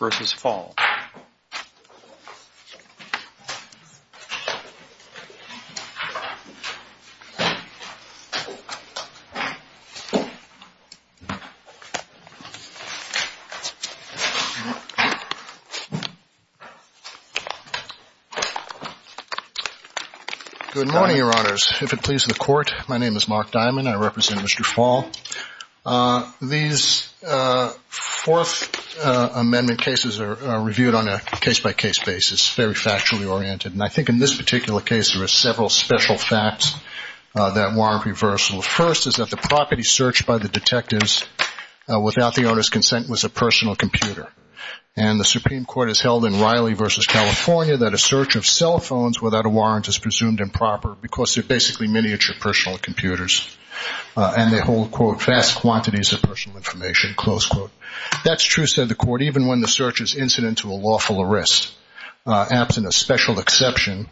Good morning, Your Honors. If it pleases the Court, my name is Mark Diamond. I represent on a case-by-case basis, very factually oriented, and I think in this particular case there are several special facts that warrant reversal. First is that the property searched by the detectives without the owner's consent was a personal computer. And the Supreme Court has held in Riley v. California that a search of cell phones without a warrant is presumed improper because they're basically miniature personal computers and they hold, quote, vast quantities of personal information, close quote. That's true, said the Court, even when the search is incident to a lawful arrest, absent a special exception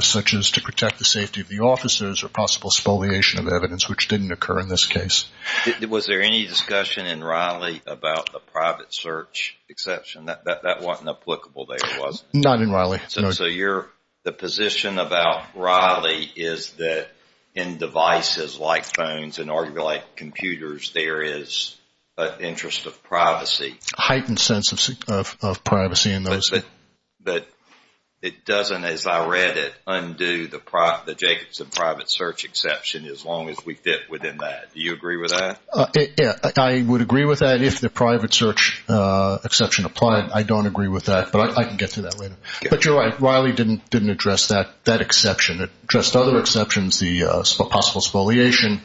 such as to protect the safety of the officers or possible spoliation of evidence, which didn't occur in this case. Judge Goldberg Was there any discussion in Riley about the private search exception? That wasn't applicable there, was it? Robert Fall Not in Riley. Judge Goldberg So you're, the position about Riley is that in devices like phones and arguably like computers, there is an interest of privacy. Robert Fall A heightened sense of privacy in those. Judge Goldberg But it doesn't, as I read it, undo the Jacobson private search exception as long as we fit within that. Do you agree with that? Robert Fall Yeah, I would agree with that if the private search exception applied. I don't agree with that, but I can get to that later. But you're right, Riley didn't address that exception. It addressed other exceptions, the possible spoliation,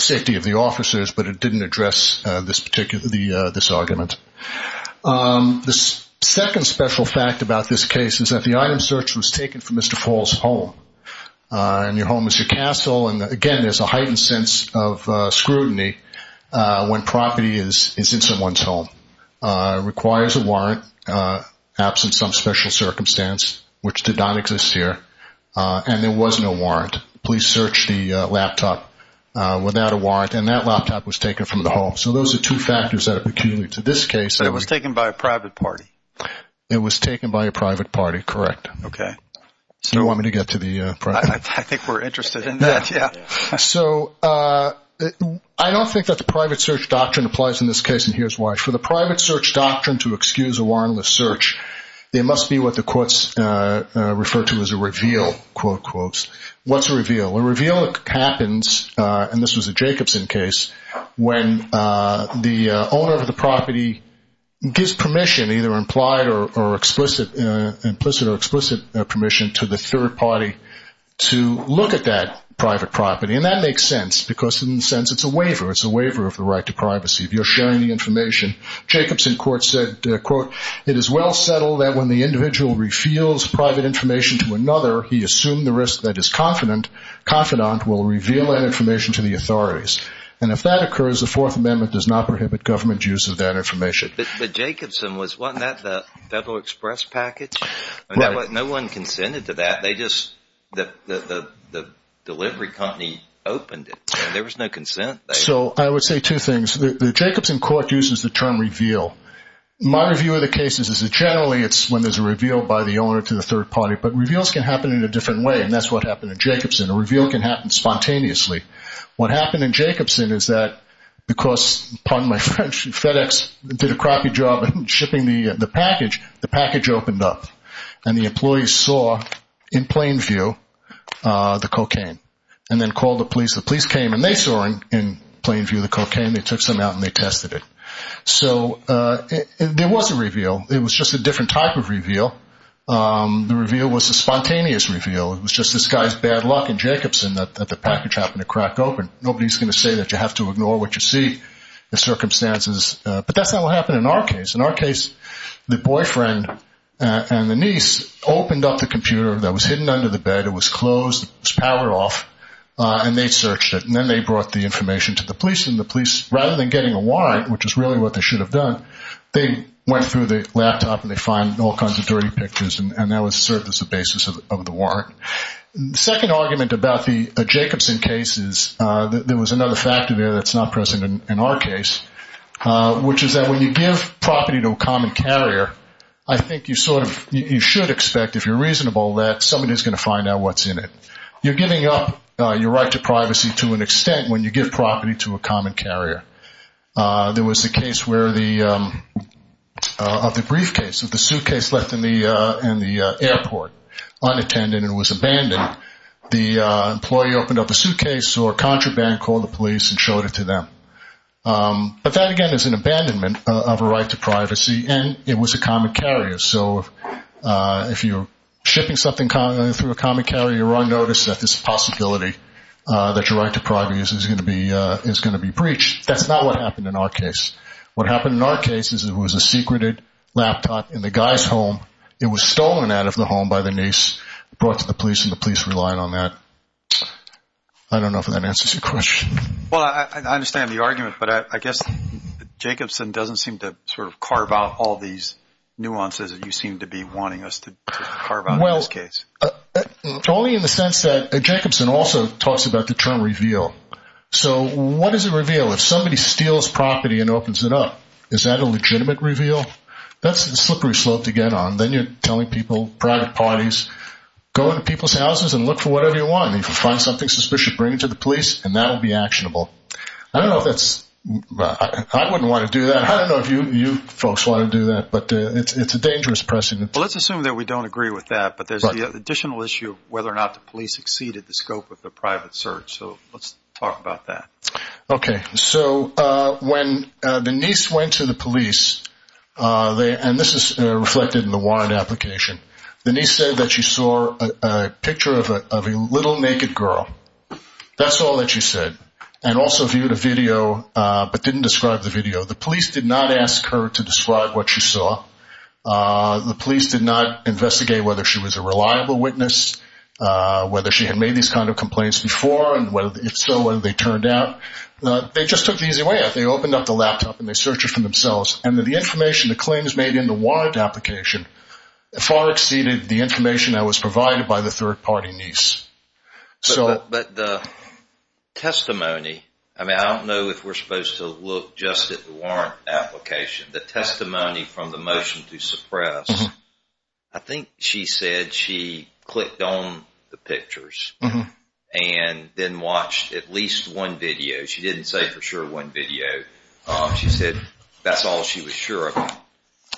safety of the officers, but it didn't address this particular, this argument. The second special fact about this case is that the item search was taken from Mr. Paul's home. And your home is your castle. And again, there's a heightened sense of scrutiny when property is in someone's home. It requires a warrant, absent some special circumstance, which did not exist here. And there was no warrant. Police searched the laptop without a warrant and that laptop was taken from the home. So those are two factors that are peculiar to this case. Judge Goldberg It was taken by a private party. Robert Fall It was taken by a private party, correct. Judge Goldberg Okay. Robert Fall Do you want me to get to the private? Judge Goldberg I think we're interested in that, yeah. Robert Fall So I don't think that the private search doctrine applies in this case, and here's why. For the private search doctrine to excuse a warrantless search, there must be what the courts refer to as a reveal, quote, quote. What's a reveal? A reveal happens, and this was a Jacobson case, when the owner of the property gives permission, either implied or explicit, implicit or explicit permission to the third party to look at that private property. And that makes sense, because in a sense, it's a waiver. It's a waiver of the right to privacy. If you're sharing the information, Jacobson court said, quote, it is well settled that when the individual reveals private information to another, he assumed the risk that his confidant will reveal that information to the authorities. And if that occurs, the Fourth Amendment does not prohibit government use of that information. Judge Goldberg But Jacobson, wasn't that the Federal Express package? No one consented to that. They just, the delivery company opened it. There was no consent. Robert Fall So I would say two things. The Jacobson court uses the term reveal. My review of the cases is that generally it's when there's a reveal by the owner to the third party. But reveals can happen in a different way, and that's what happened in Jacobson. A reveal can happen spontaneously. What happened in Jacobson is that because, pardon my French, FedEx did a crocky job shipping the package, the package opened up. And the employees saw, in plain view, the cocaine, and then called the police. The police came and they saw, in plain view, the cocaine. They took some out and they tested it. So there was a reveal. It was just a different type of reveal. The reveal was a spontaneous reveal. It was just this guy's bad luck in Jacobson that the package happened to crack open. Nobody's going to say that you have to ignore what you see, the circumstances. But that's not what happened in our case. In our case, the boyfriend and the niece opened up the computer that was hidden under the bed. It was closed. It was powered off. And they searched it. And then they brought the information to the police. And the police, which is really what they should have done, they went through the laptop and they found all kinds of dirty pictures. And that was served as a basis of the warrant. Second argument about the Jacobson case is that there was another factor there that's not present in our case, which is that when you give property to a common carrier, I think you should expect, if you're reasonable, that somebody's going to find out what's in it. You're giving up your right to privacy to an extent when you give property to a common carrier. There was a case where the briefcase, the suitcase left in the airport unattended and was abandoned. The employee opened up a suitcase or contraband, called the police and showed it to them. But that, again, is an abandonment of a right to privacy. And it was a common carrier. So if you're shipping something through a common carrier, you're giving up this possibility that your right to privacy is going to be breached. That's not what happened in our case. What happened in our case is it was a secreted laptop in the guy's home. It was stolen out of the home by the niece, brought to the police, and the police relied on that. I don't know if that answers your question. Well, I understand the argument, but I guess Jacobson doesn't seem to sort of carve out all these nuances that you seem to be wanting us to carve out in this case. Only in the sense that Jacobson also talks about the term reveal. So what is a reveal? If somebody steals property and opens it up, is that a legitimate reveal? That's a slippery slope to get on. Then you're telling people, private parties, go into people's houses and look for whatever you want. If you find something suspicious, bring it to the police and that will be actionable. I don't know if that's... I wouldn't want to do that. I don't know if you folks want to do that, but it's a dangerous precedent. Let's assume that we don't agree with that, but there's the additional issue of whether or not the police exceeded the scope of the private search. So let's talk about that. Okay. So when the niece went to the police, and this is reflected in the warrant application, the niece said that she saw a picture of a little naked girl. That's all that she said, and also viewed a video, but didn't describe the video. The police did not ask her to describe what she saw. The police did not investigate whether she was a reliable witness, whether she had made these kinds of complaints before, and if so, whether they turned out. They just took the easy way out. They opened up the laptop and they searched it for themselves. The information, the claims made in the warrant application, far exceeded the information that was provided by the third party niece. But the testimony... I don't know if we're supposed to look just at the warrant application. The testimony from the motion to suppress, I think she said she clicked on the pictures and then watched at least one video. She didn't say for sure one video. She said that's all she was sure of.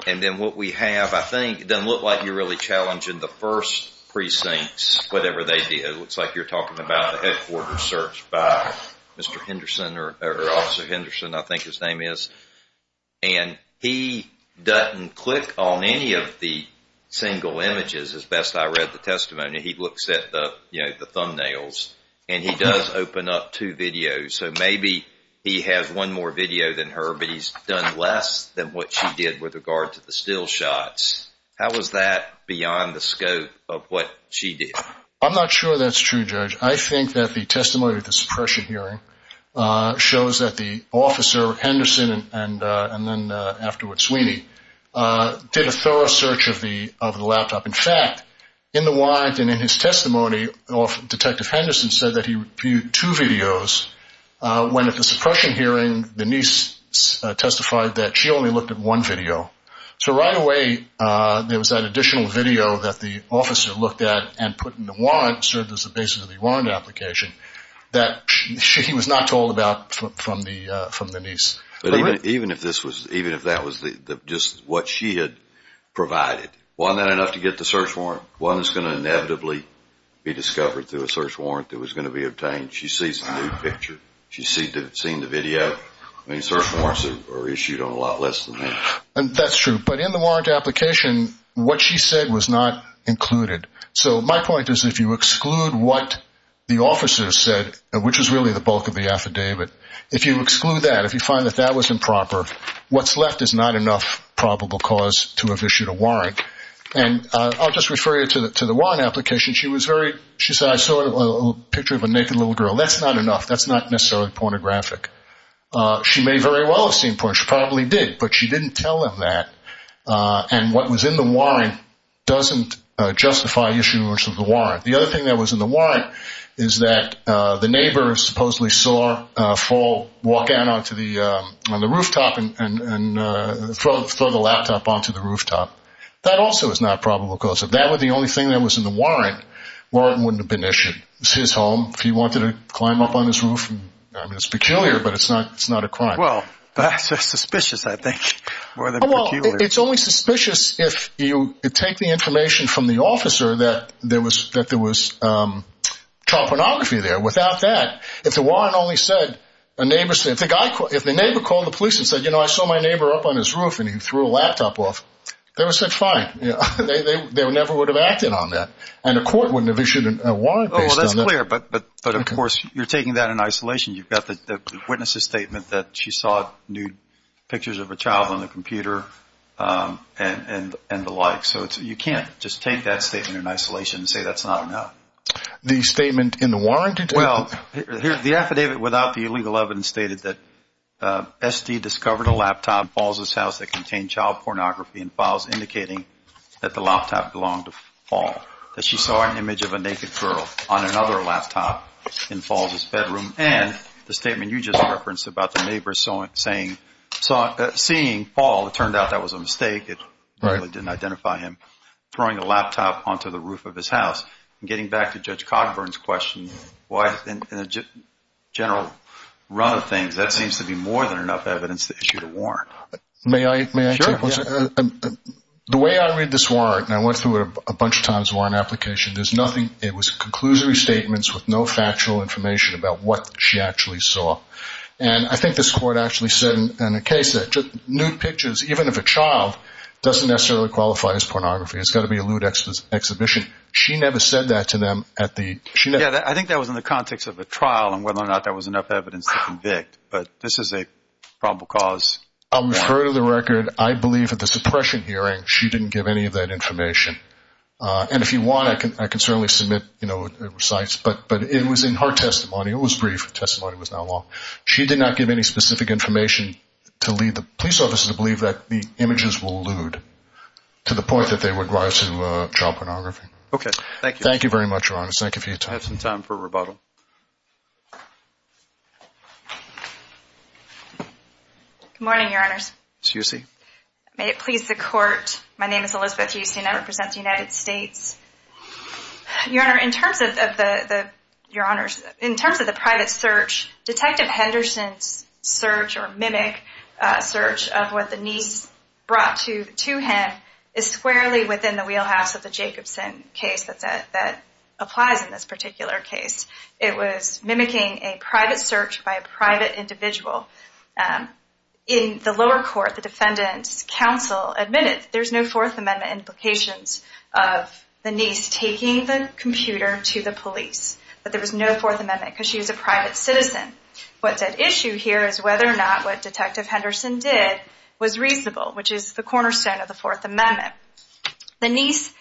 And then what we have, I think, it doesn't look like you're really challenging the first precincts, whatever they did. It looks like you're talking about headquarters search by Mr. Henderson or Officer Henderson, I think his name is. And he doesn't click on any of the single images as best I read the testimony. He looks at the thumbnails and he does open up two videos. So maybe he has one more video than her, but he's done less than what she did with regard to the still shots. How is that beyond the scope of what she did? I'm not sure that's true, Judge. I think that the testimony at the suppression hearing shows that the Officer Henderson and then afterwards Sweeney did a thorough search of the laptop. In fact, in the warrant and in his testimony, Detective Henderson said that he viewed two videos when at the suppression hearing, the niece testified that she only looked at one and the warrant served as the basis of the warrant application that she was not told about from the niece. Even if that was just what she had provided, wasn't that enough to get the search warrant? Wasn't this going to inevitably be discovered through a search warrant that was going to be obtained? She sees the nude picture. She's seen the video. I mean, search warrants are issued on a lot less than that. That's true. But in the warrant application, what she said was not included. So my point is if you exclude what the officers said, which is really the bulk of the affidavit, if you exclude that, if you find that that was improper, what's left is not enough probable cause to have issued a warrant. And I'll just refer you to the warrant application. She said, I saw a picture of a naked little girl. That's not enough. That's not necessarily pornographic. She may very well have seen porn. She probably did, but she didn't tell them that. And what was in the warrant doesn't justify issuing a warrant. The other thing that was in the warrant is that the neighbor supposedly saw a foal walk out onto the rooftop and throw the laptop onto the rooftop. That also is not probable cause. If that were the only thing that was in the warrant, the warrant wouldn't have been issued. It's his home. If he wanted to climb up on his roof, I mean, it's peculiar, but it's not a crime. It's only suspicious if you take the information from the officer that there was child pornography there. Without that, if the neighbor called the police and said, you know, I saw my neighbor up on his roof and he threw a laptop off, they would have said fine. They never would have acted on that. And a court wouldn't have issued a warrant based on that. Well, that's clear, but of course, you're taking that in isolation. You've got the witness's child on the computer and the like. So you can't just take that statement in isolation and say that's not enough. The statement in the warrant? Well, the affidavit without the illegal evidence stated that SD discovered a laptop in Falls' house that contained child pornography and files indicating that the laptop belonged to Fall, that she saw an image of a naked girl on another laptop in Falls' bedroom and the statement you just referenced about the neighbor seeing Fall, it turned out that was a mistake. It really didn't identify him throwing a laptop onto the roof of his house. Getting back to Judge Cogburn's question, in a general run of things, that seems to be more than enough evidence to issue a warrant. May I take one second? The way I read this warrant, and I went through it a bunch of times, the warrant application, there's nothing, it was conclusory statements with no factual information about what she actually saw. And I think this court actually said in a case that nude pictures, even if a child, doesn't necessarily qualify as pornography. It's got to be a lewd exhibition. She never said that to them at the... Yeah, I think that was in the context of a trial and whether or not there was enough evidence to convict, but this is a probable cause. I'll refer to the record. I believe at the suppression hearing, she didn't give any of that information. And if you want, I can certainly submit recites, but it was in her testimony. It was brief. The testimony was not long. She did not give any specific information to lead the police officers to believe that the images were lewd, to the point that they would rise to child pornography. Okay. Thank you. Thank you very much, Your Honor. Thank you for your time. I have some time for rebuttal. Good morning, Your Honors. Excuse me. May it please the court. My name is Elizabeth Houston. I represent the United States. Your Honor, in terms of the private search, Detective Henderson's search or mimic search of what the niece brought to him is squarely within the wheelhouse of the Jacobson case that applies in this particular case. It was mimicking a private search by a private individual. In the lower court, the defendant's counsel admitted that there's no Fourth Amendment implications of the niece taking the computer to the police, that there was no Fourth Amendment because she was a private citizen. What's at issue here is whether or not what Detective Henderson did was reasonable, which is the cornerstone of the Fourth Amendment. The niece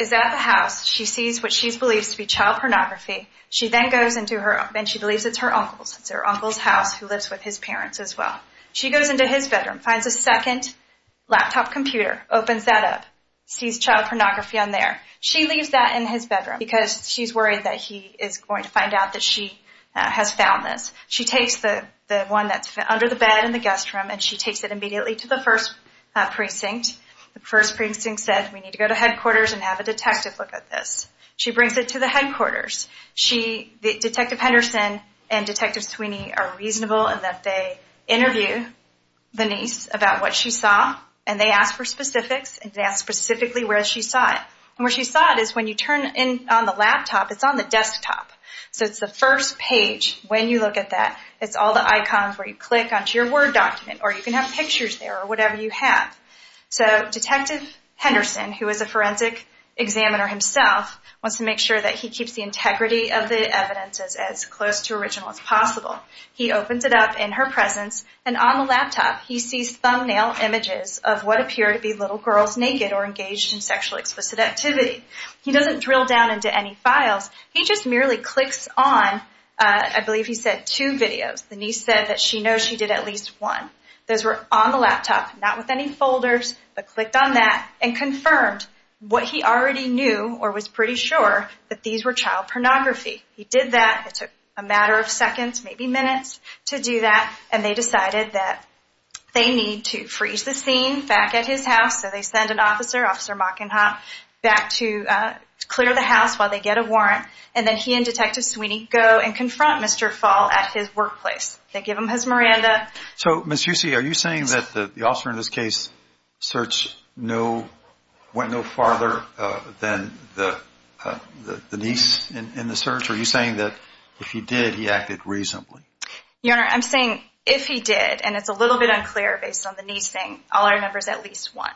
is at the house. She sees what she believes to be child pornography. She then goes into her, and she believes it's her uncle's. It's her uncle's house who lives with his parents as well. She goes into his bedroom, finds a second laptop computer, opens that up, sees child pornography on there. She leaves that in his bedroom because she's worried that he is going to find out that she has found this. She takes the one that's under the bed in the guest room, and she takes it immediately to the first precinct. The first precinct said, we need to go to headquarters and have a detective look at this. She brings it to the headquarters. Detective Henderson and Detective Sweeney are reasonable in that they interview the niece about what she saw, and they ask for specifics, and they ask specifically where she saw it. Where she saw it is when you turn on the laptop, it's on the desktop. It's the first page when you look at that. It's all the icons where you click onto your Word document, or you have. So Detective Henderson, who is a forensic examiner himself, wants to make sure that he keeps the integrity of the evidence as close to original as possible. He opens it up in her presence, and on the laptop, he sees thumbnail images of what appear to be little girls naked or engaged in sexually explicit activity. He doesn't drill down into any files. He just merely clicks on, I believe he said two videos. The niece said that she did at least one. Those were on the laptop, not with any folders, but clicked on that and confirmed what he already knew, or was pretty sure, that these were child pornography. He did that. It took a matter of seconds, maybe minutes, to do that, and they decided that they need to freeze the scene back at his house. So they send an officer, Officer Mockenhop, back to clear the house while they get a warrant, and then he and Detective Sweeney go and confront Mr. Fall at his workplace. They give him his Miranda. So Ms. Husey, are you saying that the officer in this case went no farther than the niece in the search? Are you saying that if he did, he acted reasonably? Your Honor, I'm saying if he did, and it's a little bit unclear based on the niece saying all I remember is at least one.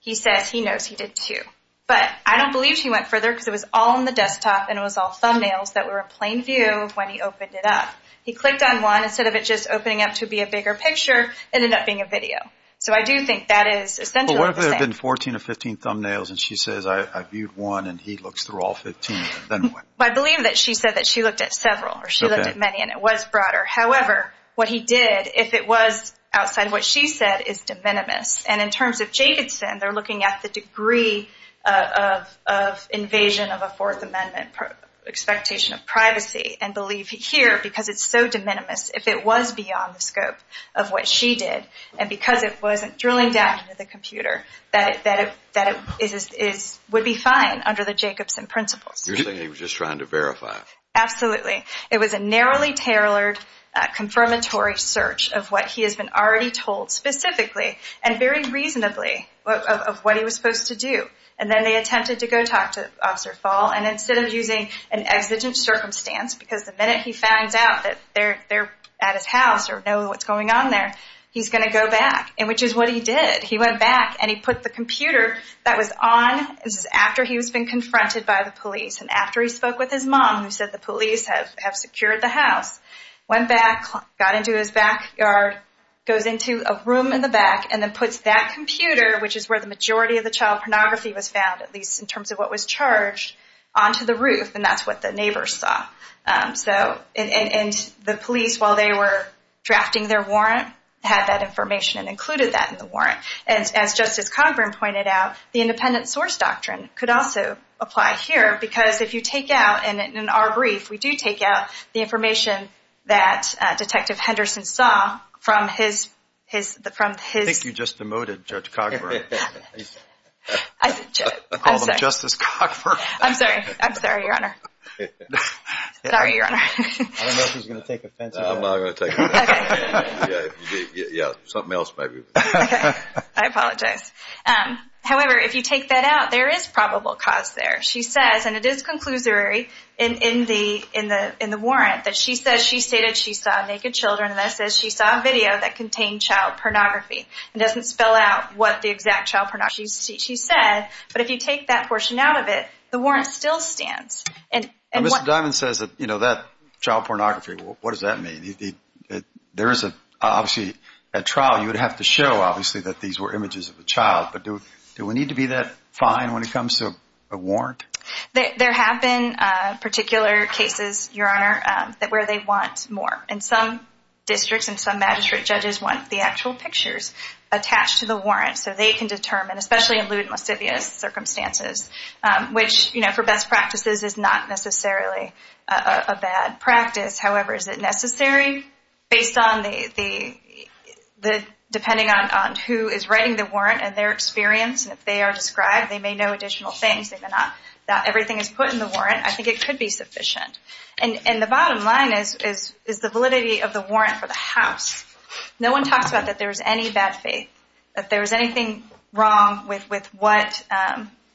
He says he knows he did two. But I don't believe she said it was all thumbnails that were in plain view when he opened it up. He clicked on one instead of it just opening up to be a bigger picture, it ended up being a video. So I do think that is essentially the same. But what if there had been 14 or 15 thumbnails and she says I viewed one and he looks through all 15 of them, then what? I believe that she said that she looked at several, or she looked at many, and it was broader. However, what he did, if it was outside what she said, is de minimis. And in terms of Jacobson, they're looking at the degree of invasion of a Fourth Amendment expectation of privacy, and believe here, because it's so de minimis, if it was beyond the scope of what she did, and because it wasn't drilling down into the computer, that it would be fine under the Jacobson principles. You're saying he was just trying to verify. Absolutely. It was a narrowly tailored confirmatory search of what he has been already told specifically and very reasonably of what he was supposed to do. And then they attempted to go talk to Officer Fall, and instead of using an exigent circumstance, because the minute he finds out that they're at his house or know what's going on there, he's going to go back, which is what he did. He went back and he put the computer that was on, this is after he was being confronted by the police, and after he spoke with his mom, who said the police have secured the house, went back, got into his backyard, goes into a room in the back, and then puts that computer, which is where the majority of the child pornography was found, at least in terms of what was charged, onto the roof, and that's what the neighbors saw. And the police, while they were drafting their warrant, had that information and included that in the warrant. And as Justice Congren pointed out, the independent source doctrine could also apply here, because if you take out, and in our brief, we do take out the information that Detective Henderson saw from his... I think you just demoted Judge Cogburn. I called him Justice Cogburn. I'm sorry, I'm sorry, Your Honor. Sorry, Your Honor. I don't know if he's going to take offense. I'm not going to take offense. Yeah, something else might be... I apologize. However, if you take that out, there is probable cause there. She says, and it is conclusory in the warrant, that she stated she saw naked children, and then it says she saw a video that contained child pornography. It doesn't spell out what the exact child pornography. She said, but if you take that portion out of it, the warrant still stands. Now, Mr. Dimon says that child pornography, what does that mean? There is obviously a trial. You would have to show, obviously, that these were images of a child. But do we need to be that fine when it comes to a warrant? There have been particular cases, Your Honor, where they want more. And some districts and some magistrate judges want the actual pictures attached to the warrant so they can determine, especially in lewd and lascivious circumstances, which for best practices is not necessarily a bad practice. However, is it necessary based on the... depending on who is writing the warrant and their experience, and if they are described, they may know additional things. They may not know that everything is put in the warrant. I think it could be sufficient. And the bottom line is the validity of the warrant for the house. No one talks about that there is any bad faith, that there is anything wrong with what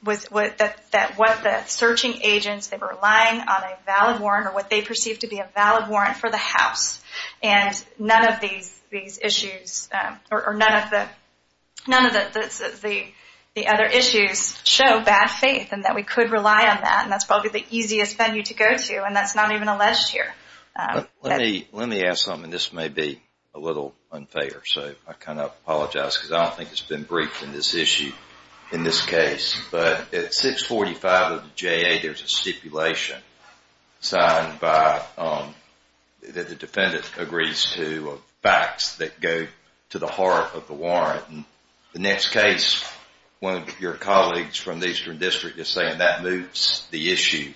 the searching agents, they were relying on a valid warrant or what they perceived to be a valid warrant for the house. And none of these issues, or none of the other issues show bad faith and that we could rely on that. And that is probably the easiest venue to go to. And that is not even alleged here. Let me ask something. This may be a little unfair. So I kind of apologize because I don't think it has been briefed in this issue, in this case. But at 645 of the JA, there is a stipulation signed by... that the defendant agrees to the facts that go to the heart of the warrant. In the next case, one of your colleagues from the Eastern District is saying that moves the issue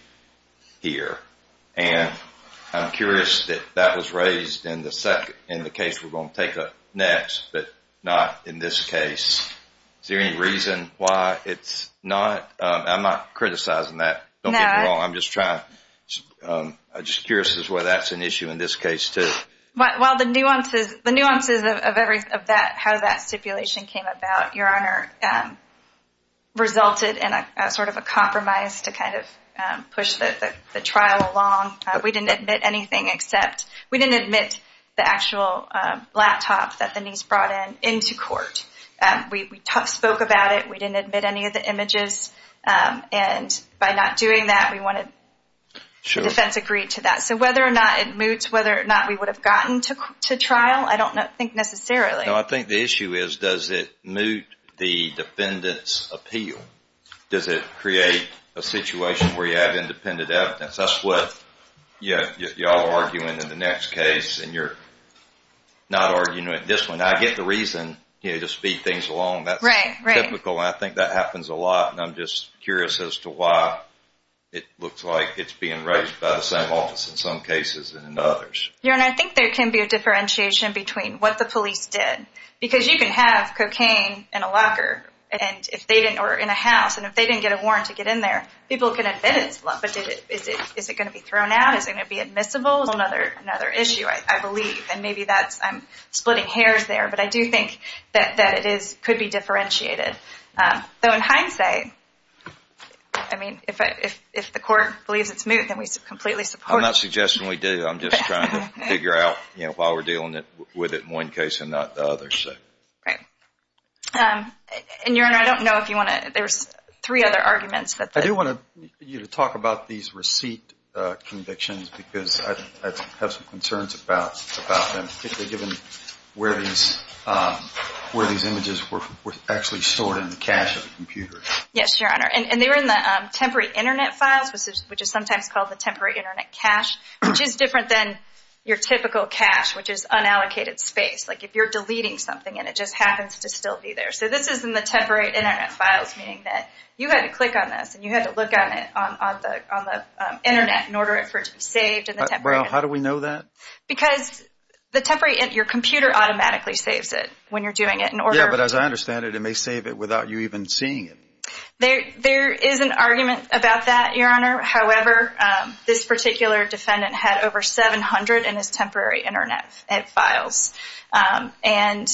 here. And I'm curious that that was raised in the case we are going to take up next, but not in this case. Is there any reason why it's not? I'm not criticizing that. Don't get me wrong. I'm just trying... I'm just curious as to why that's an issue. The nuances of how that stipulation came about, Your Honor, resulted in sort of a compromise to kind of push the trial along. We didn't admit anything except... we didn't admit the actual laptop that Denise brought in into court. We spoke about it. We didn't admit any of the images. And by not doing that, we wanted... the defense agreed to that. So whether or not it was a trial, I don't think necessarily. No, I think the issue is does it moot the defendant's appeal? Does it create a situation where you have independent evidence? That's what y'all are arguing in the next case and you're not arguing it in this one. I get the reason to speed things along. That's typical. I think that happens a lot. And I'm just curious as to why it looks like it's being raised by the same office in some cases and in others. Your Honor, I think there can be a differentiation between what the police did. Because you can have cocaine in a locker or in a house and if they didn't get a warrant to get in there, people can admit it. But is it going to be thrown out? Is it going to be admissible? Another issue, I believe. And maybe that's... I'm splitting hairs there. But I do think that it could be differentiated. Though in hindsight, I mean, if the court believes it's moot, then we completely support it. I'm not suggesting we do. I'm just trying to figure out why we're dealing with it in one case and not the other. Right. And Your Honor, I don't know if you want to... There's three other arguments. I do want you to talk about these receipt convictions because I have some concerns about them, particularly given where these images were actually stored in the cache of the computer. Yes, Your Honor. And they were in the temporary internet files, which is sometimes called the temporary internet cache, which is different than your typical cache, which is unallocated space. Like if you're deleting something and it just happens to still be there. So this is in the temporary internet files, meaning that you had to click on this and you had to look on it on the internet in order for it to be saved in the temporary... Well, how do we know that? Because the temporary... Your computer automatically saves it when you're doing it in order... Yeah, but as I understand it, it may save it without you even seeing it. There is an argument about that, Your Honor. However, this particular defendant had over 700 in his temporary internet files. And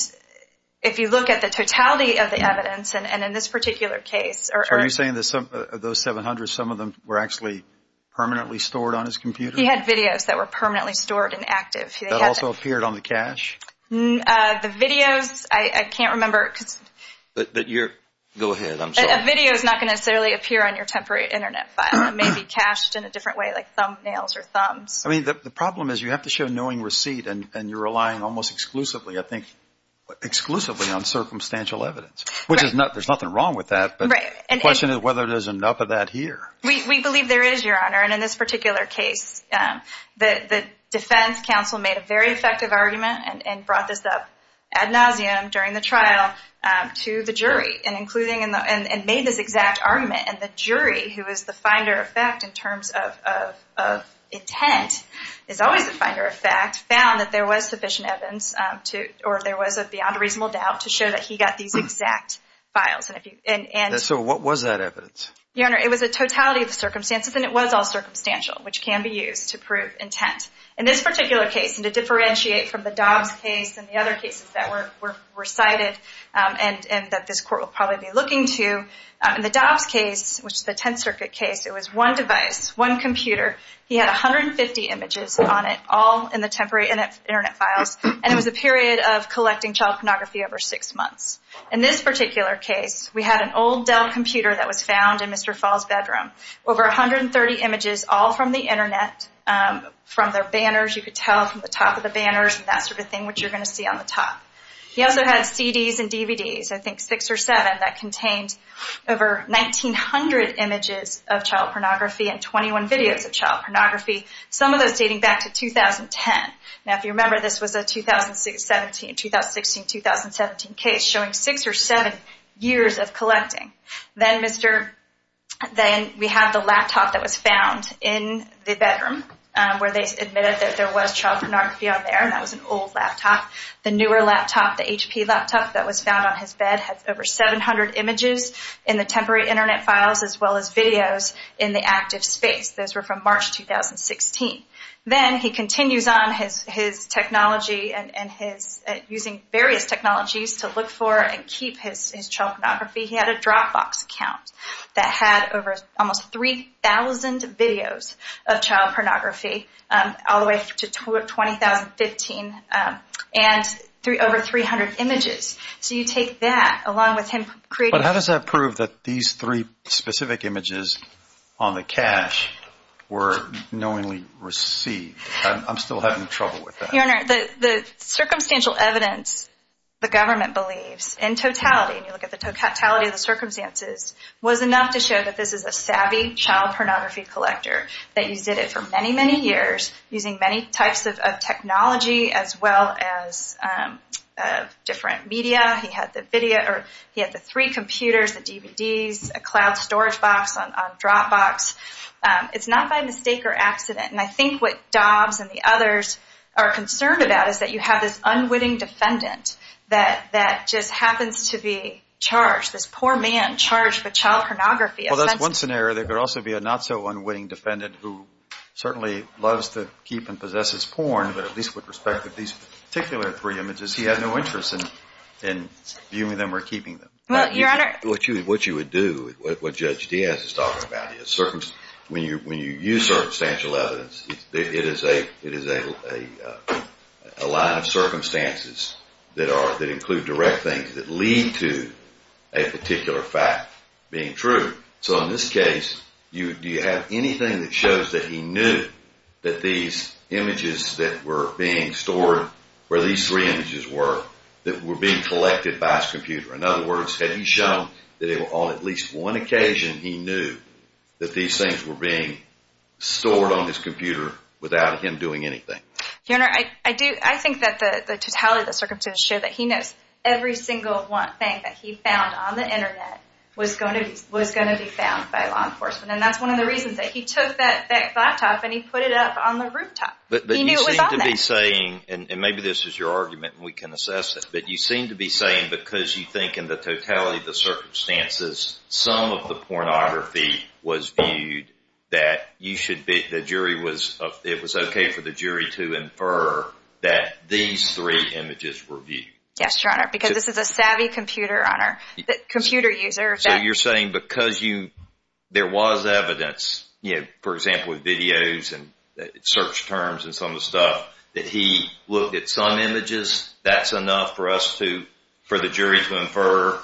if you look at the totality of the evidence, and in this particular case... So are you saying that some of those 700, some of them were actually permanently stored on his computer? He had videos that were permanently stored and active. That also appeared on the cache? The videos, I can't hear them. A video is not going to necessarily appear on your temporary internet file. It may be cached in a different way, like thumbnails or thumbs. I mean, the problem is you have to show knowing receipt and you're relying almost exclusively, I think, exclusively on circumstantial evidence, which is not... There's nothing wrong with that, but the question is whether there's enough of that here. We believe there is, Your Honor. And in this particular case, the defense counsel made a very effective argument and brought this up ad nauseum during the trial to the jury and made this exact argument. And the jury, who is the finder of fact in terms of intent, is always the finder of fact, found that there was sufficient evidence or there was a beyond reasonable doubt to show that he got these exact files. And so what was that evidence? Your Honor, it was a totality of the circumstances and it was all circumstantial, which can be used to prove intent. In this particular case, and to differentiate from the Dobbs case and the other cases that were cited and that this Court will probably be looking to, in the Dobbs case, which is the Tenth Circuit case, it was one device, one computer. He had 150 images on it, all in the temporary Internet files, and it was a period of collecting child pornography over six months. In this particular case, we had an old Dell computer that was found in Mr. Fall's bedroom. Over 130 images all from the Internet, from their banners, you could tell from the top of the banners and that sort of thing, which you're going to see on the top. He also had CDs and DVDs, I think six or seven, that contained over 1,900 images of child pornography and 21 videos of child pornography, some of those dating back to 2010. Now, if you remember, this was a 2016, 2017 case showing six or seven years of collecting. Then we have the laptop that was found in the bedroom where they admitted that there was child pornography on there, and that was an old laptop. The newer laptop, the HP laptop that was found on his bed had over 700 images in the temporary Internet files as well as videos in the active space. Those were from March 2016. Then he continues on his technology and his using various technologies to look for and keep his child pornography. He had a Dropbox account that had over almost 3,000 videos of child pornography in 2015 and over 300 images. So you take that along with him creating... But how does that prove that these three specific images on the cache were knowingly received? I'm still having trouble with that. Your Honor, the circumstantial evidence the government believes in totality, and you look at the totality of the circumstances, was enough to show that this is a savvy child pornography collector that used it for many, many years, using many types of technology as well as different media. He had the three computers, the DVDs, a cloud storage box on Dropbox. It's not by mistake or accident. I think what Dobbs and the others are concerned about is that you have this unwitting defendant that just happens to be charged, this poor man charged with child pornography. Well, that's one scenario. There could also be a not-so-unwitting defendant who certainly loves to keep and possesses porn, but at least with respect to these particular three images, he had no interest in viewing them or keeping them. Your Honor... What you would do, what Judge Diaz is talking about, when you use circumstantial evidence, it is a line of circumstances that include direct things that lead to a particular fact being true. So in this case, do you have anything that shows that he knew that these images that were being stored, where these three images were, that were being collected by his computer? In other words, had he shown that on at least one occasion he knew that these things were being stored on his computer without him doing anything? Your Honor, I think that the totality of the circumstances show that he knows every single one thing that he found on the Internet was going to be found by law enforcement, and that's one of the reasons that he took that laptop and he put it up on the rooftop. He knew it was on there. But you seem to be saying, and maybe this is your argument and we can assess it, but you seem to be saying because you think in the totality of the circumstances, some of the pornography was viewed that you should be, the jury was, it was okay for the jury to infer that these three images were viewed. Yes, Your Honor, because this is a savvy computer, Your Honor, computer user. So you're saying because you, there was evidence, for example with videos and search terms and some of the stuff, that he looked at some images, that's enough for us to, for the jury to infer?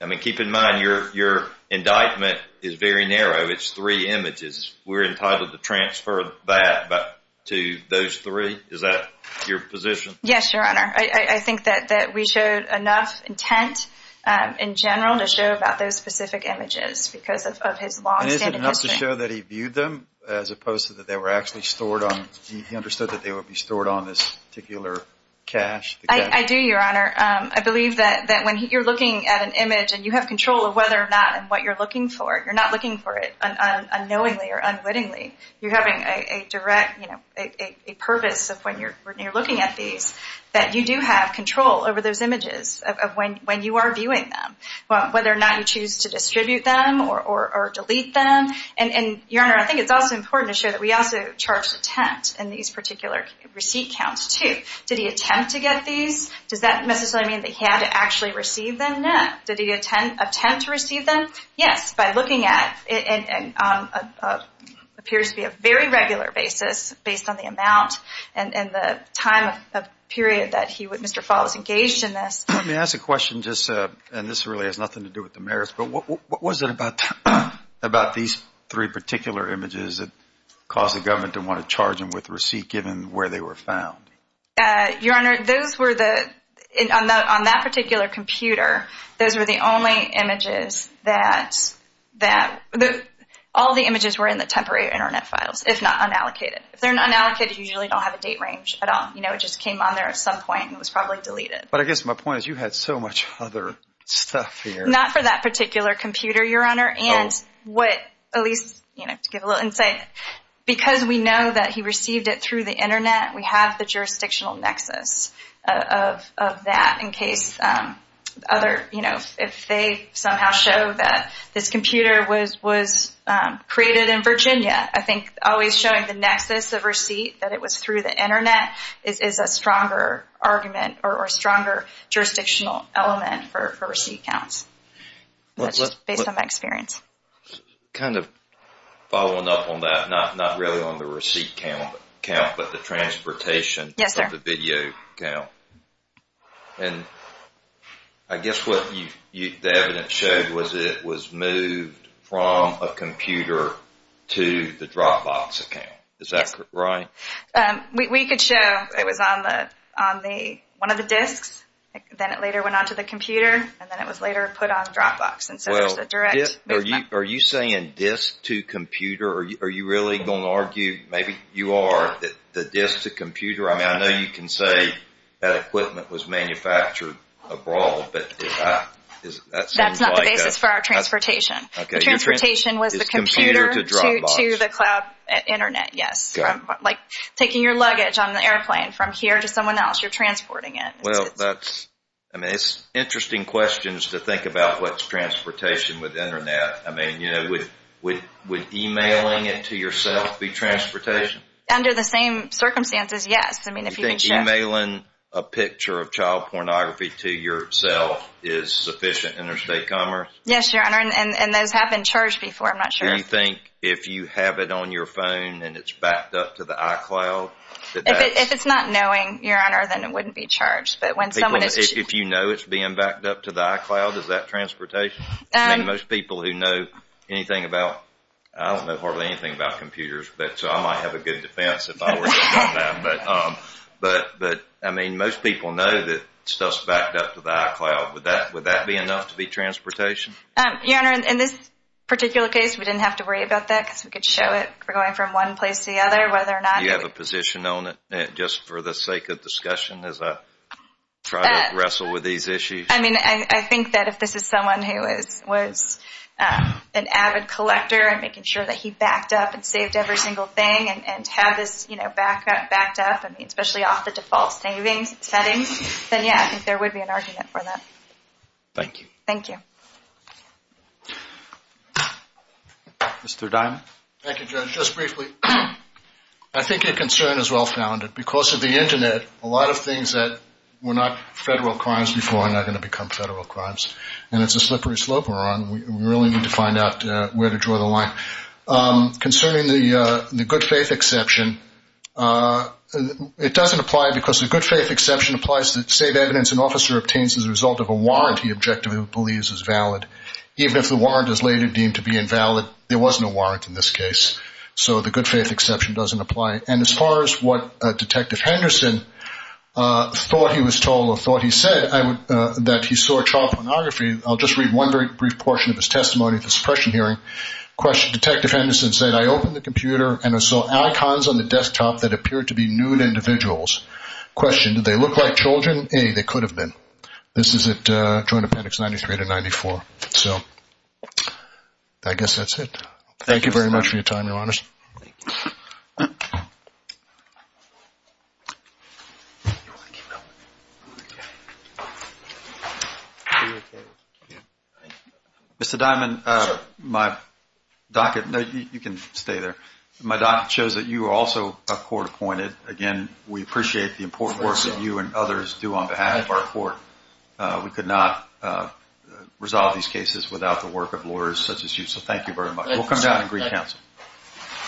I mean, keep in mind, your indictment is very narrow. It's three images. We're entitled to transfer that to those three? Is that your position? Yes, Your Honor. I think that we showed enough intent in general to show about those specific images because of his longstanding history. And is it enough to show that he viewed them as opposed to that they were actually stored on, he understood that they would be stored on this particular cache? I do, Your Honor. I believe that when you're looking at an image and you have control of whether or not and what you're looking for, you're not looking for it unknowingly or unwittingly. You're having a direct, a purpose of when you're looking at these, that you do have control over those images of when you are viewing them. Whether or not you choose to distribute them or delete them. And, Your Honor, I think it's also important to show that we also charged intent in these particular receipt counts too. Did he attempt to get these? Does that necessarily mean that he had to actually receive them? No. Did he attempt to receive them? Yes. By looking at, it appears to be a very regular basis based on the amount and the time of period that Mr. Fall is engaged in this. Let me ask a question just, and this really has nothing to do with the merits, but what was it about these three particular images that caused the government to want to charge him with a receipt given where they were found? Your Honor, those were the, on that particular computer, those were the images that, all the images were in the temporary internet files, if not unallocated. If they're unallocated, you usually don't have a date range at all. You know, it just came on there at some point and was probably deleted. But I guess my point is you had so much other stuff here. Not for that particular computer, Your Honor. Oh. And what, at least, you know, to give a little insight, because we know that he received it through the internet, we have the jurisdictional nexus of that in case other, you know, if they somehow show that this computer was created in Virginia. I think always showing the nexus of receipt, that it was through the internet, is a stronger argument or a stronger jurisdictional element for receipt counts. That's just based on my experience. Kind of following up on that, not really on the receipt count, but the transportation of the video count. Yes, sir. I guess what the evidence showed was that it was moved from a computer to the Dropbox account. Yes. Is that right? We could show it was on one of the disks. Then it later went on to the computer. And then it was later put on Dropbox. Well, are you saying disk to computer? Are you really going to argue, maybe you are, that disk to computer? I know you can say that equipment was manufactured abroad. That's not the basis for our transportation. The transportation was the computer to the cloud internet, yes. Like taking your luggage on the airplane from here to someone else, you're transporting it. Well, that's, I mean, it's interesting questions to think about what's transportation with internet. I mean, you know, would emailing it to yourself be transportation? Under the same circumstances, yes. Do you think emailing a picture of child pornography to yourself is sufficient interstate commerce? Yes, your honor. And those have been charged before, I'm not sure. Do you think if you have it on your phone and it's backed up to the iCloud? If it's not knowing, your honor, then it wouldn't be charged. If you know it's being backed up to the iCloud, is that transportation? Most people who know anything about, I don't know hardly anything about computers, so I might have a good defense if I were to say that. But, I mean, most people know that stuff's backed up to the iCloud. Would that be enough to be transportation? Your honor, in this particular case, we didn't have to worry about that because we could show it. We're going from one place to the other. You have a position on it just for the sake of discussion as I try to wrestle with these issues? I mean, I think that if this is someone who was an avid collector and making sure that he backed up and saved every single thing and had this backed up, I mean, especially off the default settings, then, yeah, I think there would be an argument for that. Thank you. Thank you. Mr. Diamond? Thank you, Judge. Just briefly, I think your concern is well-founded. Because of the Internet, a lot of things that were not federal crimes before are not going to become federal crimes. And it's a slippery slope we're on. We really need to find out where to draw the line. Concerning the good-faith exception, it doesn't apply because the good-faith exception applies to save evidence an officer obtains as a result of a warrant he objectively believes is valid. Even if the warrant is later deemed to be invalid, there wasn't a warrant in this case. So the good-faith exception doesn't apply. And as far as what Detective Henderson thought he was told or thought he said that he saw child pornography, I'll just read one very brief portion of his testimony at this pressure hearing. Detective Henderson said, I opened the computer and I saw icons on the desktop that appeared to be nude individuals. Question, did they look like children? A, they could have been. This is at Joint Appendix 93 to 94. So I guess that's it. Thank you very much for your time, Your Honors. Thank you. Mr. Diamond, my docket, you can stay there. My docket shows that you are also a court appointed. Again, we appreciate the important work that you and others do on behalf of our court. We could not resolve these cases without the work of lawyers such as you. So thank you very much. We'll come down and greet counsel.